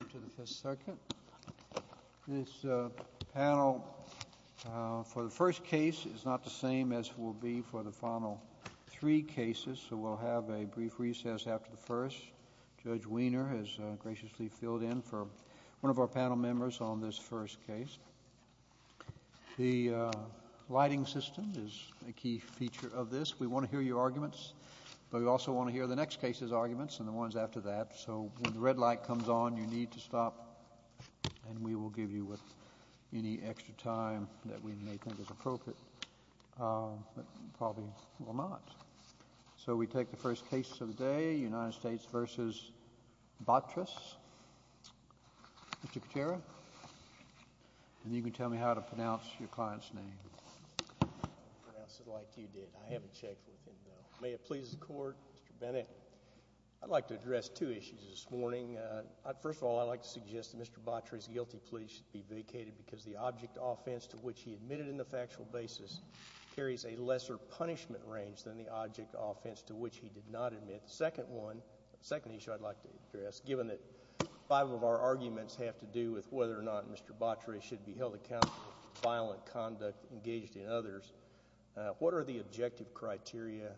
to the Fifth Circuit. This panel for the first case is not the same as it will be for the final three cases, so we'll have a brief recess after the first. Judge Wiener has graciously filled in for one of our panel members on this first case. The lighting system is a key feature of this. We want to hear your arguments, but we also want to hear the next case's arguments and the ones after that, so when the red light comes on, you need to stop, and we will give you any extra time that we may think is appropriate, but probably will not. So we take the first case of the day, United States v. Batres. Mr. Katera, and you can tell me how to pronounce your client's name. I'll pronounce it like you did. I haven't checked with him, though. May it please the Court? Mr. Bennett, I'd like to address two issues this morning. First of all, I'd like to suggest that Mr. Batres' guilty plea should be vacated because the object offense to which he admitted in the factual basis carries a lesser punishment range than the object offense to which he did not admit. The second issue I'd like to address, given that five of our arguments have to do with whether or not Mr. Batres should be held accountable for violent conduct engaged in others, what are the objective criteria,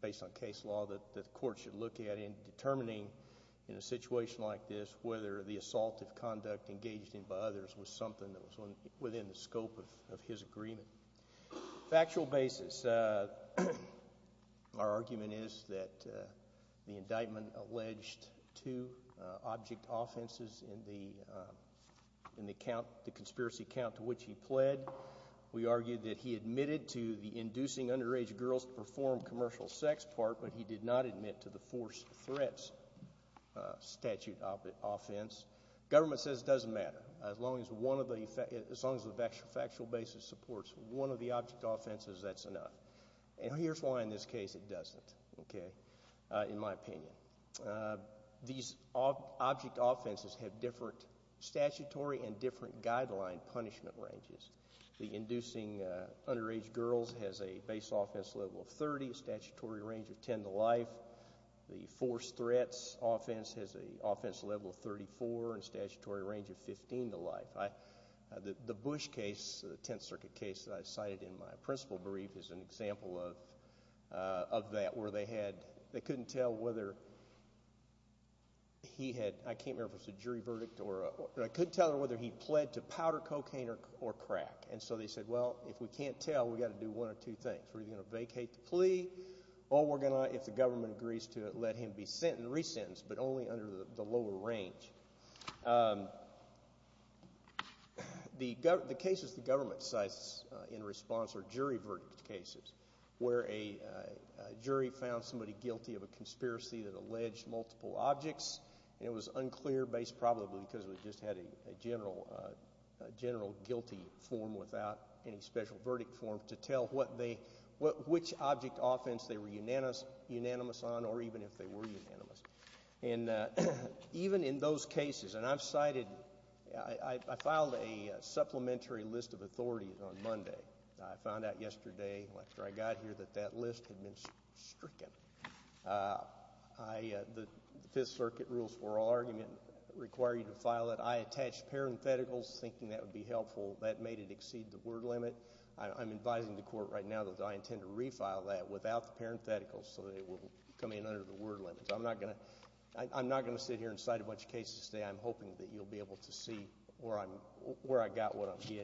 based on case law, that the Court should look at in determining, in a situation like this, whether the assaultive conduct engaged in by others was something that was within the scope of his agreement? Factual basis, our argument is that the indictment alleged two object offenses in the conspiracy account to which he pled. We argue that he admitted to the inducing underage girls to perform commercial sex part, but he did not admit to the forced threats statute offense. Government says it doesn't matter. As long as the factual basis supports one of the object offenses, that's enough. Here's why in this case it doesn't, in my opinion. These object offenses have a guideline punishment ranges. The inducing underage girls has a base offense level of 30, a statutory range of 10 to life. The forced threats offense has an offense level of 34, and a statutory range of 15 to life. The Bush case, the Tenth Circuit case that I cited in my principal brief, is an example of that, where they couldn't tell whether he had, I can't remember if it was a jury verdict, or a, I couldn't tell whether he pled to powder cocaine or crack. And so they said, well, if we can't tell, we've got to do one of two things. We're either going to vacate the plea, or we're going to, if the government agrees to it, let him be sentenced, resentenced, but only under the lower range. The cases the government cites in response are jury verdict cases, where a jury found somebody guilty of a conspiracy that alleged multiple objects, and it was unclear based probably because we just had a general guilty form without any special verdict form to tell what they, which object offense they were unanimous on, or even if they were unanimous. Even in those cases, and I've cited, I filed a supplementary list of authorities on Monday. I found out yesterday, after I got here, that that list had been stricken. I, the Fifth Circuit rules for all argument require you to file it. I attached parentheticals, thinking that would be helpful. That made it exceed the word limit. I'm advising the court right now that I intend to refile that without the parentheticals, so that it will come in under the word limit. So I'm not going to, I'm not going to sit here and cite a bunch of cases today. I'm hoping that you'll be able to see where I'm, where I got what I'm,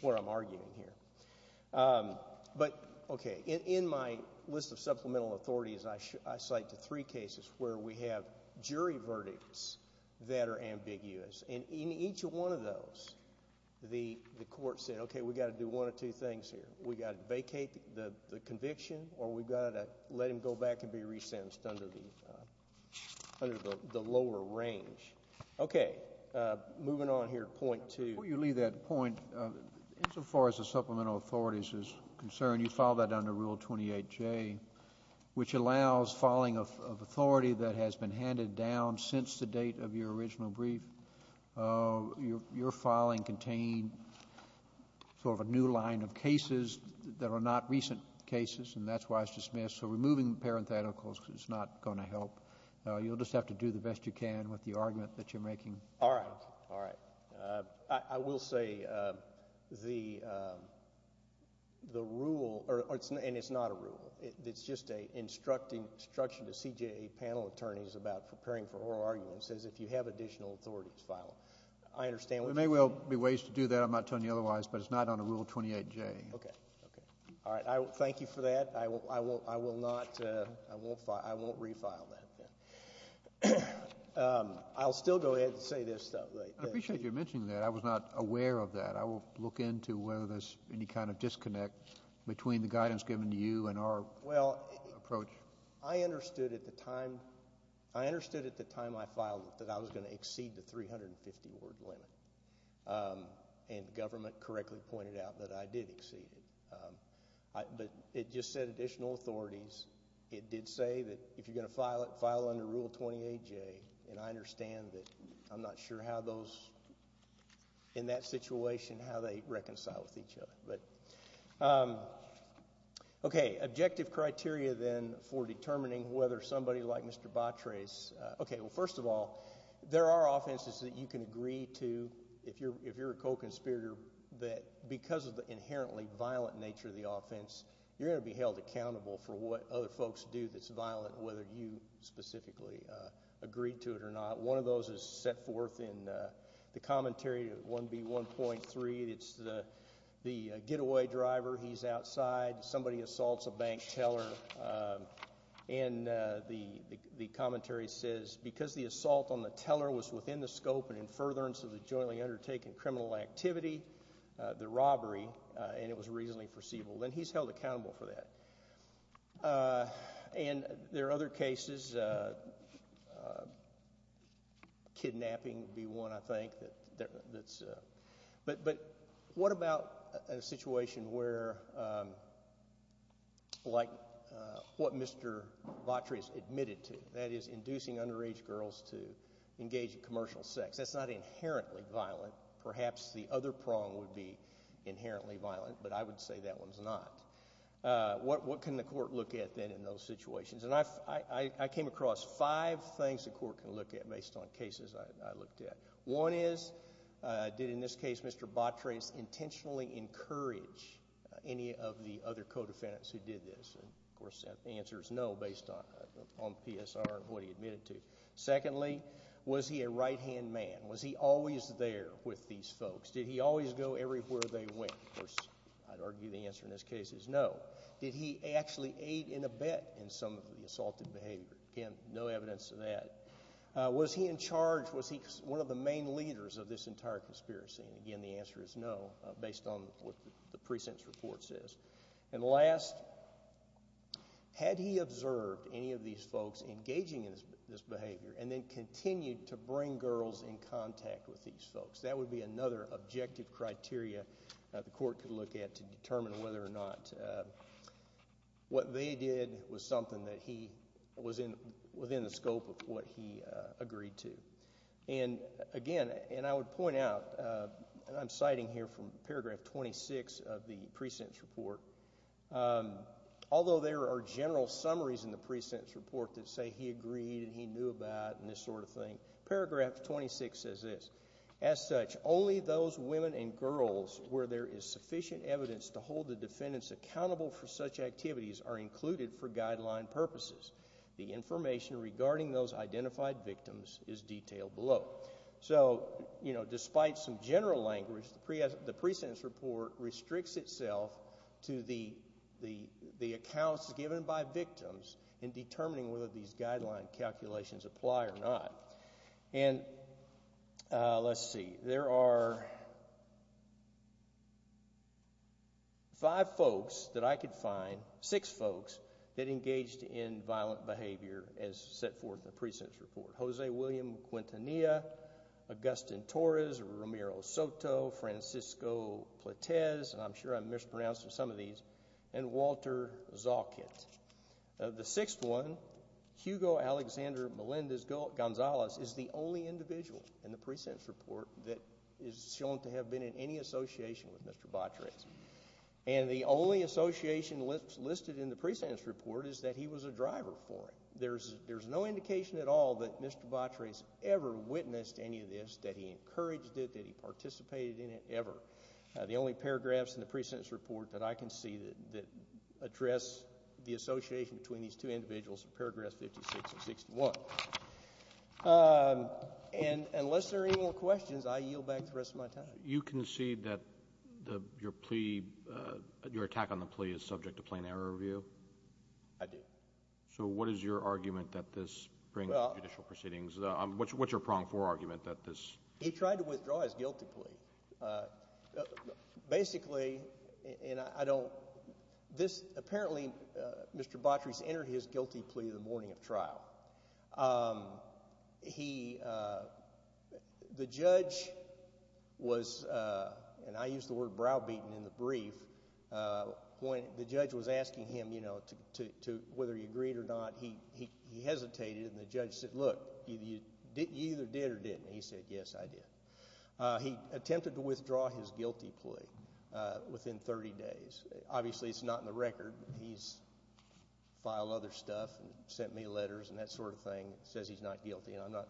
where I'm arguing here. But, okay, in my list of supplemental authorities, I cite the three cases where we have jury verdicts that are ambiguous, and in each one of those, the court said, okay, we've got to do one of two things here. We've got to vacate the conviction, or we've got to let him go back and be resentenced under the, under the lower range. Okay, moving on here, point two. Before you leave that point, insofar as the supplemental authorities is concerned, you filed that under Rule 28J, which allows filing of authority that has been handed down since the date of your original brief. Your filing contained sort of a new line of cases that are not recent cases, and that's why it's dismissed. So removing the parentheticals is not going to help. You'll just have to do the best you can with the I will say the, the rule, and it's not a rule. It's just a instruction to CJA panel attorneys about preparing for oral arguments as if you have additional authorities filed. I understand... There may well be ways to do that. I'm not telling you otherwise, but it's not under Rule 28J. Okay, okay. All right. Thank you for that. I will, I will not, I won't refile that. I'll still go ahead and say this though. Right. I appreciate you mentioning that. I was not aware of that. I will look into whether there's any kind of disconnect between the guidance given to you and our... Well...... approach. I understood at the time, I understood at the time I filed it that I was going to exceed the 350-word limit, and the government correctly pointed out that I did exceed it. But it just said additional authorities. It did say that if you're going to file it, file under Rule 28J, and I understand that I'm not sure how those... in that situation, how they reconcile with each other. But... Okay. Objective criteria then for determining whether somebody like Mr. Batres... Okay. Well, first of all, there are offenses that you can agree to if you're a co-conspirator that because of the inherently violent nature of the offense, you're going to be held accountable for what other folks do that's violent, whether you specifically agreed to it or not. One of those is set forth in the commentary of 1B1.3. It's the getaway driver, he's outside, somebody assaults a bank teller, and the commentary says because the assault on the teller was within the scope and in furtherance of the jointly undertaken criminal activity, the robbery, and it was reasonably foreseeable. Then he's held accountable for that. And there are other cases. Kidnapping would be one, I think, that's... But what about a situation where, like what Mr. Batres admitted to, that is, inducing underage girls to engage in commercial sex? That's not inherently violent. Perhaps the other prong would be inherently violent, but I would say that one's not. What can the court look at, then, in those situations? And I came across five things the court can look at based on cases I looked at. One is, did, in this case, Mr. Batres intentionally encourage any of the other co-defendants who did this? Of course, the answer is no, based on PSR and what he admitted to. Secondly, was he a right-hand man? Was he always there with these folks? Did he always go everywhere they went? Of course, I'd argue the answer in this case is no. Did he actually aid in a bet in some of the assaulted behavior? Again, no evidence of that. Was he in charge? Was he one of the main leaders of this entire conspiracy? And again, the answer is no, based on what the precinct's report says. And last, had he observed any of these folks engaging in this behavior and then continued to bring girls in contact with these folks? That would be another objective criteria the court could look at to determine whether or not what they did was something that he was in, within the scope of what he agreed to. And again, and I would point out, and I'm citing here from paragraph 26 of the precinct's report, although there are general summaries in the precinct's report that say he agreed and he knew about and this sort of thing. Paragraph 26 says this, as such, only those women and girls where there is sufficient evidence to hold the defendants accountable for such activities are included for guideline purposes. The information regarding those identified victims is detailed below. So, you know, despite some general language, the precinct's report restricts itself to the accounts given by victims in whether these guideline calculations apply or not. And let's see, there are five folks that I could find, six folks, that engaged in violent behavior as set forth in the precinct's report. Jose William Quintanilla, Augustin Torres, Ramiro Soto, Francisco Platez, and Walter Zalkit. The sixth one, Hugo Alexander Melendez-Gonzalez, is the only individual in the precinct's report that is shown to have been in any association with Mr. Batres. And the only association listed in the precinct's report is that he was a driver for it. There's no indication at all that Mr. Batres ever witnessed any of this, that he encouraged it, that he participated in it, ever. The only paragraphs in the precinct's report that I can see that address the association between these two individuals, paragraphs 56 and 61. And unless there are any more questions, I yield back the rest of my time. You concede that your plea, your attack on the plea is subject to plain error review? I do. So what is your argument that this brings to judicial proceedings? What's your prong for argument that this? He tried to withdraw his guilty plea. Basically, and I don't, this, apparently Mr. Batres entered his guilty plea the morning of trial. He, the judge was, and I use the word browbeaten in the brief, when the judge was asking him, you know, whether he agreed or not, he hesitated and the judge said, look, you either did or didn't. He said, yes, I did. He attempted to withdraw his guilty plea within 30 days. Obviously, it's not in the record. He's filed other stuff and sent me letters and that sort of thing, says he's not guilty, and I'm not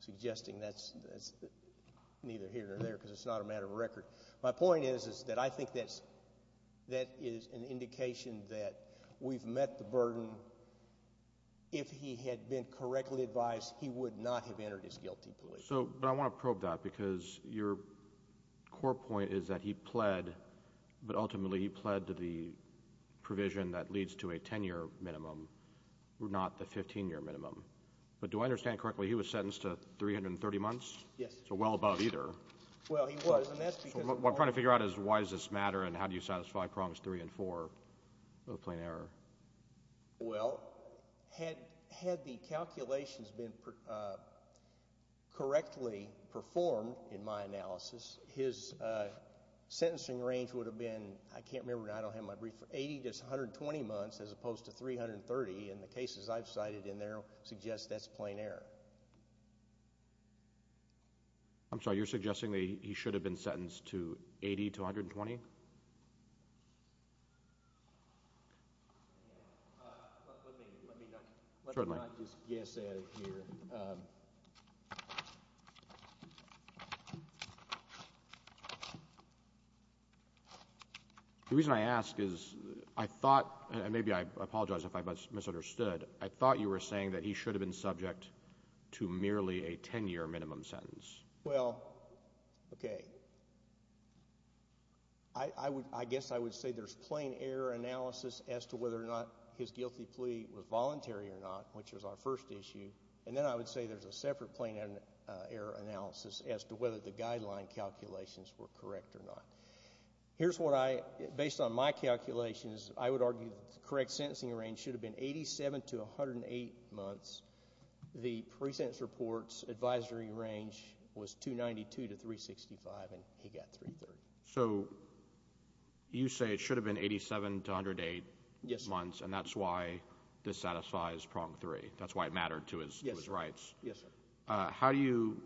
suggesting that's neither here nor there because it's not a matter of record. My point is that I think that's, that is an indication that we've met the burden if he had been convicted and correctly advised, he would not have entered his guilty plea. So, but I want to probe that because your core point is that he pled, but ultimately he pled to the provision that leads to a 10-year minimum, not the 15-year minimum. But do I understand correctly, he was sentenced to 330 months? Yes. It's a well above either. Well, he was, and that's because... So what I'm trying to figure out is why does this matter and how do you satisfy prongs three and four of plain error? Well, had the calculations been correctly performed in my analysis, his sentencing range would have been, I can't remember now, I don't have my brief, 80 to 120 months as opposed to 330, and the cases I've cited in there suggest that's plain error. I'm sorry, you're suggesting that he should have been sentenced to 80 to 120? Let me, let me not, let me not just guess at it here. The reason I ask is I thought, and maybe I apologize if I misunderstood, I thought you were saying that he should have been subject to merely a 10-year minimum sentence. Well, okay, I guess I would say there's plain error analysis as to whether or not his guilty plea was voluntary or not, which was our first issue, and then I would say there's a separate plain error analysis as to whether the guideline calculations were correct or not. Here's what I, based on my calculations, I would argue the correct sentencing range should have been 87 to 108 months. The pre-sentence report's advisory range was 292 to 365, and he got 330. So, you say it should have been 87 to 108 months, and that's why this satisfies prong 3, that's why it mattered to his rights. Yes, sir. How do you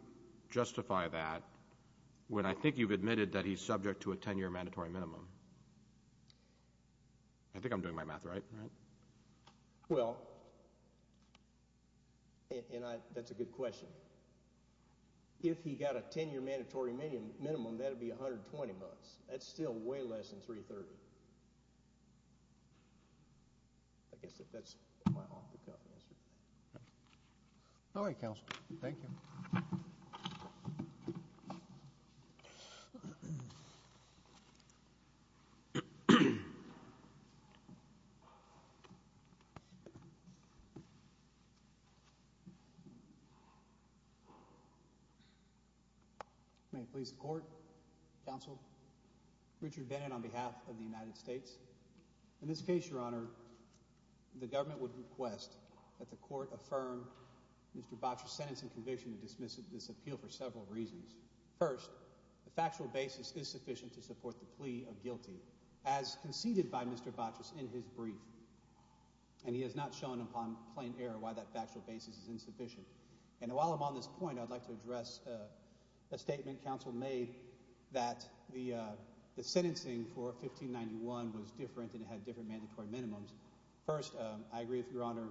justify that when I think you've admitted that he's subject to a 10-year mandatory minimum? I think I'm doing my math right, right? Well, and I, that's a good question. If he got a 10-year mandatory minimum, that would be 120 months. That's still way less than 330. I guess that's my off-the-cuff answer. All right, counsel, thank you. May it please the court, counsel, Richard Bennett on behalf of the United States. In this case, your honor, the government would request that the court affirm Mr. Botcher's sentencing conviction to dismiss this appeal for several reasons. First, the factual basis is sufficient to support the plea of guilty, as conceded by Mr. Botcher in his brief, and he has not shown upon plain error why that factual basis is insufficient. And while I'm on this point, I'd like to address a statement counsel made that the sentencing for 1591 was different and it had different mandatory minimums. First, I agree with your honor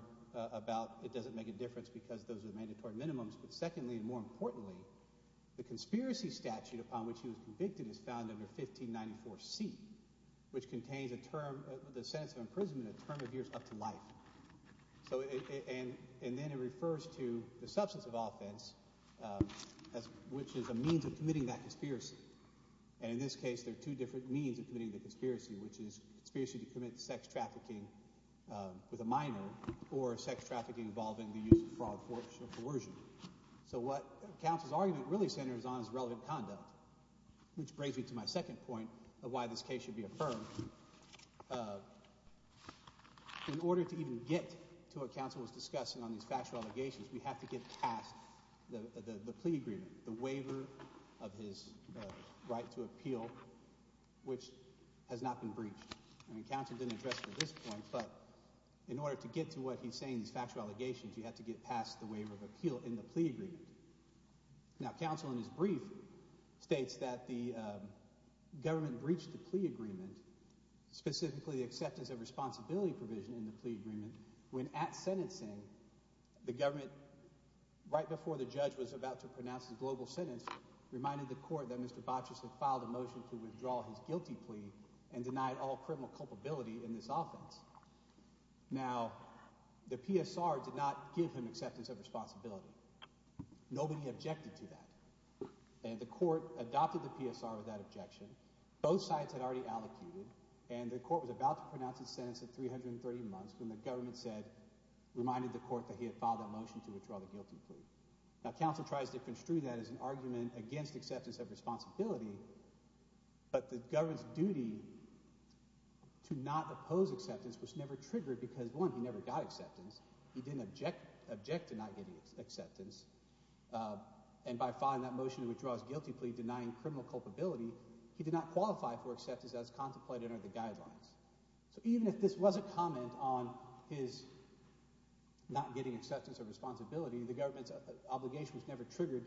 about it doesn't make a difference because those are mandatory minimums, but secondly and more importantly, the conspiracy statute upon which he was convicted is found under 1594C, which contains the sentence of imprisonment a term of years up to life. And then it refers to the substance of offense, which is a means of committing that conspiracy. And in this case, there are two different means of committing the conspiracy, which is conspiracy to commit sex trafficking with a minor or sex trafficking involving the use of fraud, forfeiture, or coercion. So what counsel's argument really centers on is relevant conduct, which brings me to my second point of why this case should be affirmed. In order to even get to what counsel was discussing on these factual allegations, we have to get past the plea agreement, the waiver of his right to appeal, which has not been breached. I mean, counsel didn't address it at this point, but in order to get to what he's saying in these factual allegations, you have to get past the waiver of appeal in the plea agreement. Now, counsel, in his brief, states that the government breached the plea agreement, specifically the acceptance of responsibility provision in the plea agreement, when at sentencing, the government, right before the judge was about to pronounce the global sentence, reminded the court that Mr. Botches had filed a motion to withdraw his guilty plea and denied all criminal culpability in this offense. Now, the PSR did not give him acceptance of responsibility. Nobody objected to that. And the court adopted the PSR with that objection. Both sides had already allocated, and the court was about to pronounce its sentence at 330 months when the government said, reminded the court that he had filed that motion to withdraw the guilty plea. Now, counsel tries to construe that as an argument against acceptance of responsibility, but the government's duty to not oppose acceptance was never triggered because, one, he never got acceptance, he didn't object to not getting acceptance, and by filing that motion to withdraw his guilty plea, denying criminal culpability, he did not qualify for acceptance as contemplated under the guidelines. So even if this was a comment on his not getting acceptance of responsibility, the government's duty was never triggered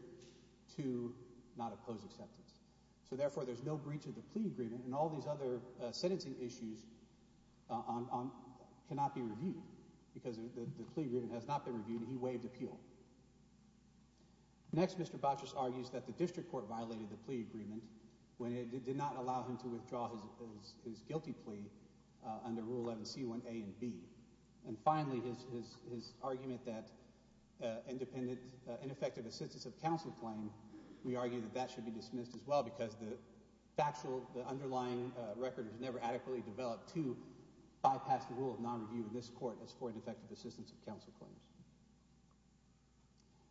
to not oppose acceptance. So, therefore, there's no breach of the plea agreement, and all these other sentencing issues cannot be reviewed because the plea agreement has not been reviewed, and he waived appeal. Next, Mr. Botches argues that the district court violated the plea agreement when it did not allow him to withdraw his guilty plea under Rule 11c1a and b. And finally, his argument that independent, ineffective assistance of counsel claim, we argue that that should be dismissed as well because the factual, the underlying record was never adequately developed to bypass the rule of non-review in this court as for ineffective assistance of counsel claims.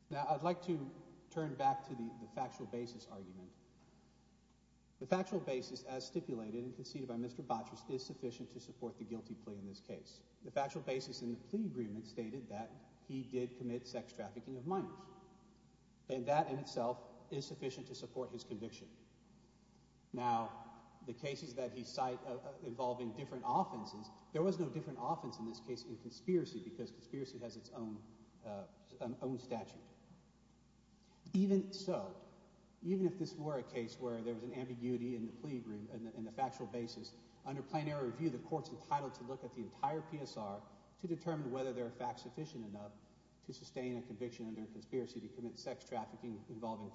Now, I'd like to turn back to the factual basis argument. The factual basis, as stipulated and conceded by Mr. Botches, is sufficient to support the factual basis in the plea agreement stated that he did commit sex trafficking of minors. And that in itself is sufficient to support his conviction. Now, the cases that he cite involving different offenses, there was no different offense in this case in conspiracy because conspiracy has its own statute. Even so, even if this were a case where there was an ambiguity in the plea agreement, in fact sufficient enough to sustain a conviction under conspiracy to commit sex trafficking involving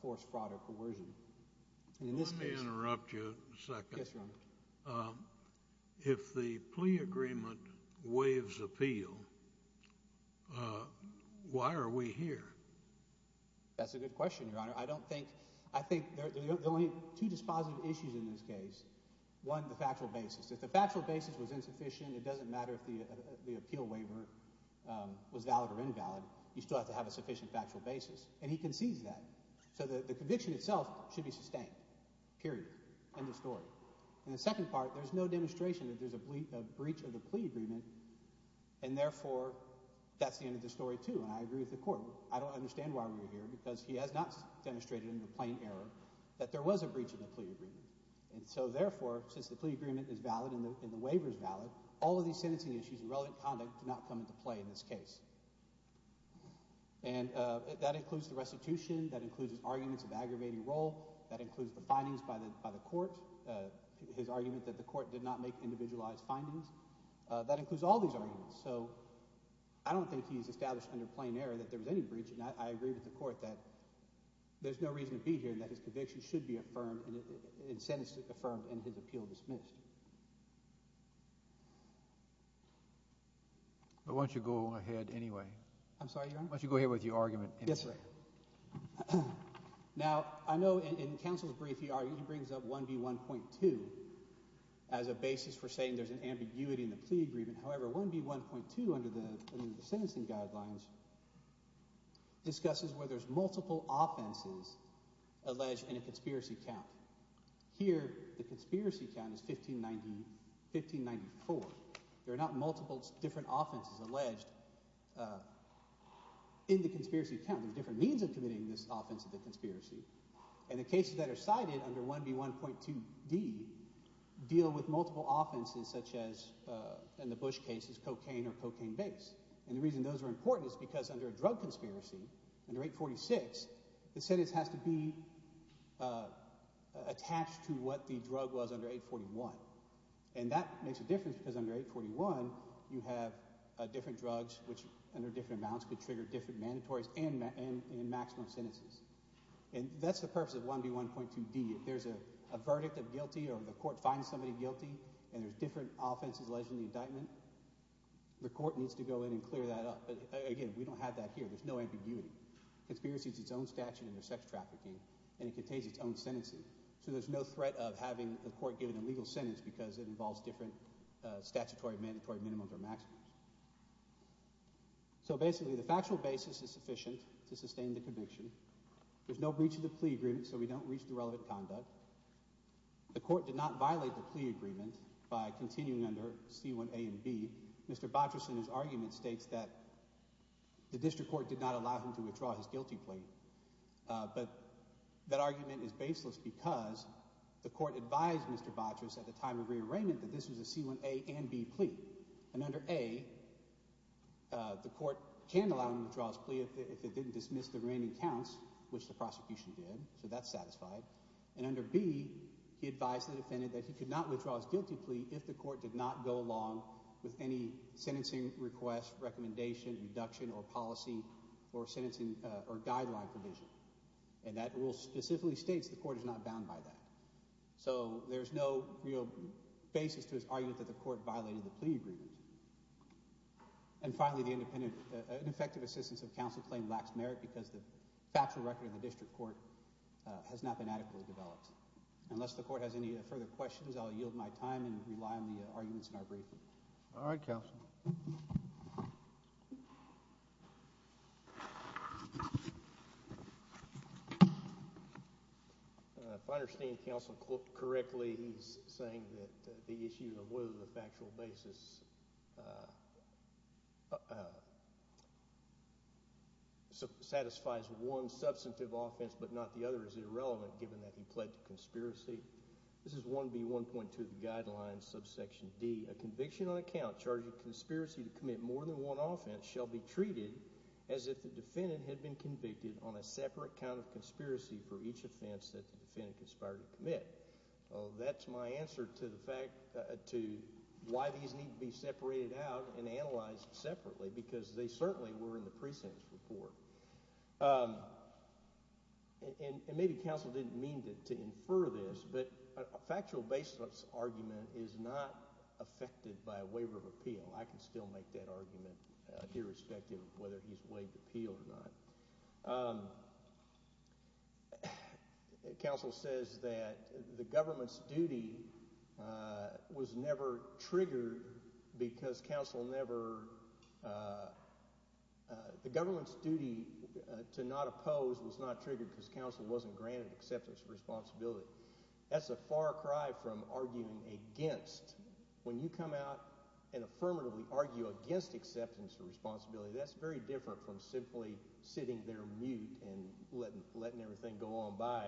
forced fraud or coercion. And in this case— Let me interrupt you a second. Yes, Your Honor. If the plea agreement waives appeal, why are we here? That's a good question, Your Honor. I don't think—I think there are only two dispositive issues in this case. One, the factual basis. If the factual basis was insufficient, it doesn't matter if the appeal waiver was valid or invalid. You still have to have a sufficient factual basis. And he concedes that. So the conviction itself should be sustained, period. End of story. And the second part, there's no demonstration that there's a breach of the plea agreement and therefore that's the end of the story too. And I agree with the Court. I don't understand why we're here because he has not demonstrated in the plain error that there was a breach of the plea agreement. And so therefore, since the plea agreement is valid and the waiver is valid, all of these sentencing issues and relevant conduct do not come into play in this case. And that includes the restitution. That includes his arguments of aggravating role. That includes the findings by the Court, his argument that the Court did not make individualized findings. That includes all these arguments. So I don't think he's established under plain error that there was any breach. And I agree with the Court that there's no reason to be here and that his conviction should be affirmed and sentencing affirmed and his appeal dismissed. But why don't you go ahead anyway? I'm sorry, Your Honor? Why don't you go ahead with your argument anyway? Yes, sir. Now, I know in counsel's brief, he brings up 1B1.2 as a basis for saying there's an ambiguity in the plea agreement. However, 1B1.2 under the sentencing guidelines discusses where there's multiple offenses alleged in a conspiracy count. Here, the conspiracy count is 1594. There are not multiple different offenses alleged in the conspiracy count. There's different means of committing this offense of the conspiracy. And the cases that are cited under 1B1.2d deal with multiple offenses such as, in the Bush case, cocaine or cocaine-based. And the reason those are important is because under a drug conspiracy, under 846, the sentence has to be attached to what the drug was under 841. And that makes a difference because under 841, you have different drugs which under different amounts could trigger different mandatories and maximum sentences. And that's the purpose of 1B1.2d. If there's a verdict of guilty or the court finds somebody guilty and there's different offenses alleged in the indictment, the court needs to go in and clear that up. But again, we don't have that here. There's no ambiguity. Conspiracy is its own statute under sex trafficking, and it contains its own sentences. So there's no threat of having the court give an illegal sentence because it involves different statutory, mandatory minimums or maximums. So basically, the factual basis is sufficient to sustain the conviction. There's no breach of the plea agreement, so we don't breach the relevant conduct. The court did not violate the plea agreement by continuing under C1A and B. Mr. Botris in his argument states that the district court did not allow him to withdraw his guilty plea, but that argument is baseless because the court advised Mr. Botris at the time of rearrangement that this was a C1A and B plea. And under A, the court can allow him to withdraw his plea if it didn't dismiss the remaining counts, which the prosecution did, so that's satisfied. And under B, he advised the defendant that he could not withdraw his guilty plea if the defendant had any sentencing request, recommendation, induction, or policy for sentencing or guideline provision. And that rule specifically states the court is not bound by that. So, there's no real basis to his argument that the court violated the plea agreement. And finally, the ineffective assistance of counsel claim lacks merit because the factual record in the district court has not been adequately developed. Unless the court has any further questions, I'll yield my time and rely on the arguments in our briefing. All right, counsel. If I understand counsel correctly, he's saying that the issue of whether the factual basis satisfies one substantive offense but not the other is irrelevant given that he pled to conspiracy. This is 1B.1.2 of the guidelines, subsection D. A conviction on account charging conspiracy to commit more than one offense shall be treated as if the defendant had been convicted on a separate count of conspiracy for each offense that the defendant conspired to commit. Well, that's my answer to the fact to why these need to be separated out and analyzed And maybe counsel didn't mean to infer this, but a factual basis argument is not affected by a waiver of appeal. I can still make that argument irrespective of whether he's waived appeal or not. Counsel says that the government's duty was never triggered because counsel never, the government's duty to not oppose was not triggered because counsel wasn't granted acceptance of responsibility. That's a far cry from arguing against. When you come out and affirmatively argue against acceptance of responsibility, that's very different from simply sitting there mute and letting everything go on by.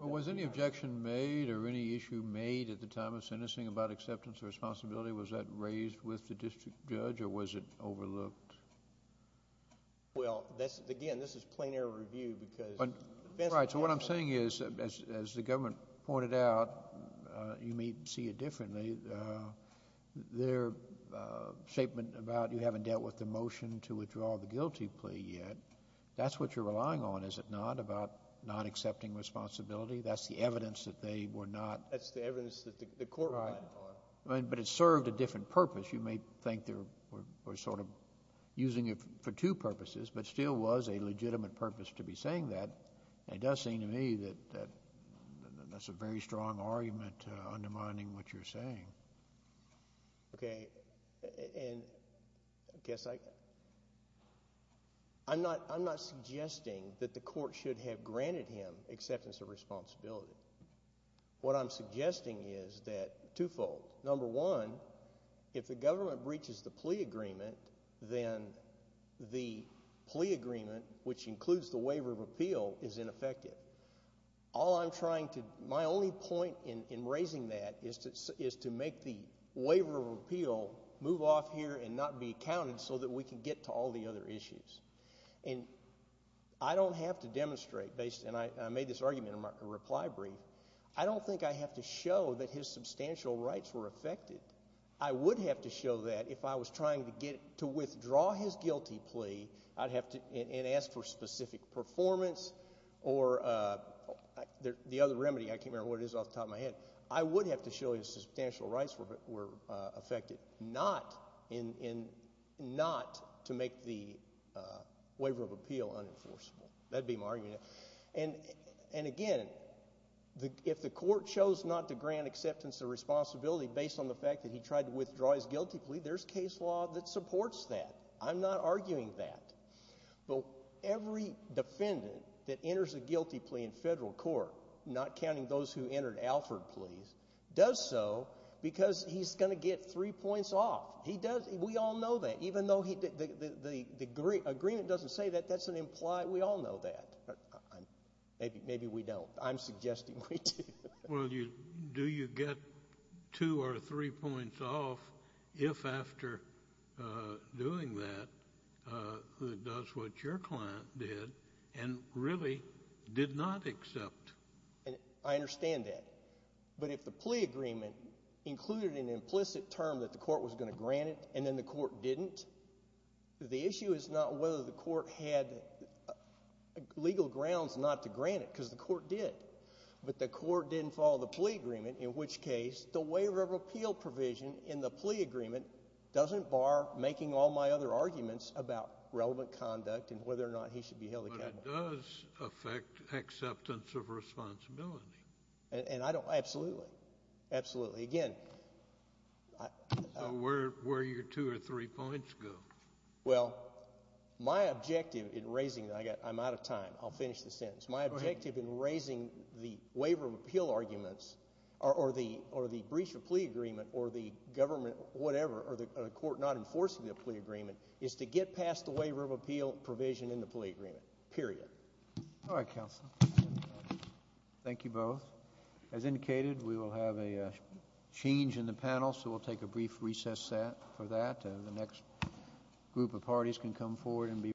Was any objection made or any issue made at the time of sentencing about acceptance of responsibility? Was that raised with the district judge or was it overlooked? Well, again, this is plain air review because defense counsel Right, so what I'm saying is, as the government pointed out, you may see it differently. Their statement about you haven't dealt with the motion to withdraw the guilty plea yet, that's what you're relying on, is it not, about not accepting responsibility? That's the evidence that they were not That's the evidence that the court relied upon But it served a different purpose. You may think they were sort of using it for two purposes, but still was a legitimate purpose to be saying that. It does seem to me that that's a very strong argument undermining what you're saying. Okay, and I guess I'm not suggesting that the court should have granted him acceptance of responsibility. What I'm suggesting is that twofold. Number one, if the government breaches the plea agreement, then the plea agreement, which includes the waiver of appeal, is ineffective. My only point in raising that is to make the waiver of appeal move off here and not be counted so that we can get to all the other issues. And I don't have to demonstrate, and I made this argument in my reply brief, I don't think I have to show that his substantial rights were affected. I would have to show that if I was trying to withdraw his guilty plea and ask for specific performance or the other remedy, I can't remember what it is off the top of my head, I would have to show his substantial rights were affected, not to make the waiver of appeal unenforceable. That would be my argument. And again, if the court chose not to grant acceptance of responsibility based on the fact that he tried to withdraw his guilty plea, there's case law that supports that. I'm not arguing that. But every defendant that enters a guilty plea in federal court, not counting those who entered Alford pleas, does so because he's going to get three points off. We all know that. Even though the agreement doesn't say that, that doesn't imply we all know that. Maybe we don't. I'm suggesting we do. Well, do you get two or three points off if, after doing that, does what your client did and really did not accept? I understand that. But if the plea agreement included an implicit term that the court was going to grant it and then the court didn't, the issue is not whether the court had legal grounds not to grant it, because the court did. But the court didn't follow the plea agreement, in which case the waiver of appeal provision in the plea agreement doesn't bar making all my other arguments about relevant conduct and whether or not he should be held accountable. But it does affect acceptance of responsibility. And I don't – absolutely, absolutely. Again, I – So where do your two or three points go? Well, my objective in raising – I'm out of time. I'll finish the sentence. Go ahead. My objective in raising the waiver of appeal arguments or the breach of plea agreement or the government, whatever, or the court not enforcing the plea agreement is to get past the waiver of appeal provision in the plea agreement, period. All right, counsel. Thank you both. As indicated, we will have a change in the panel, so we'll take a brief recess for that.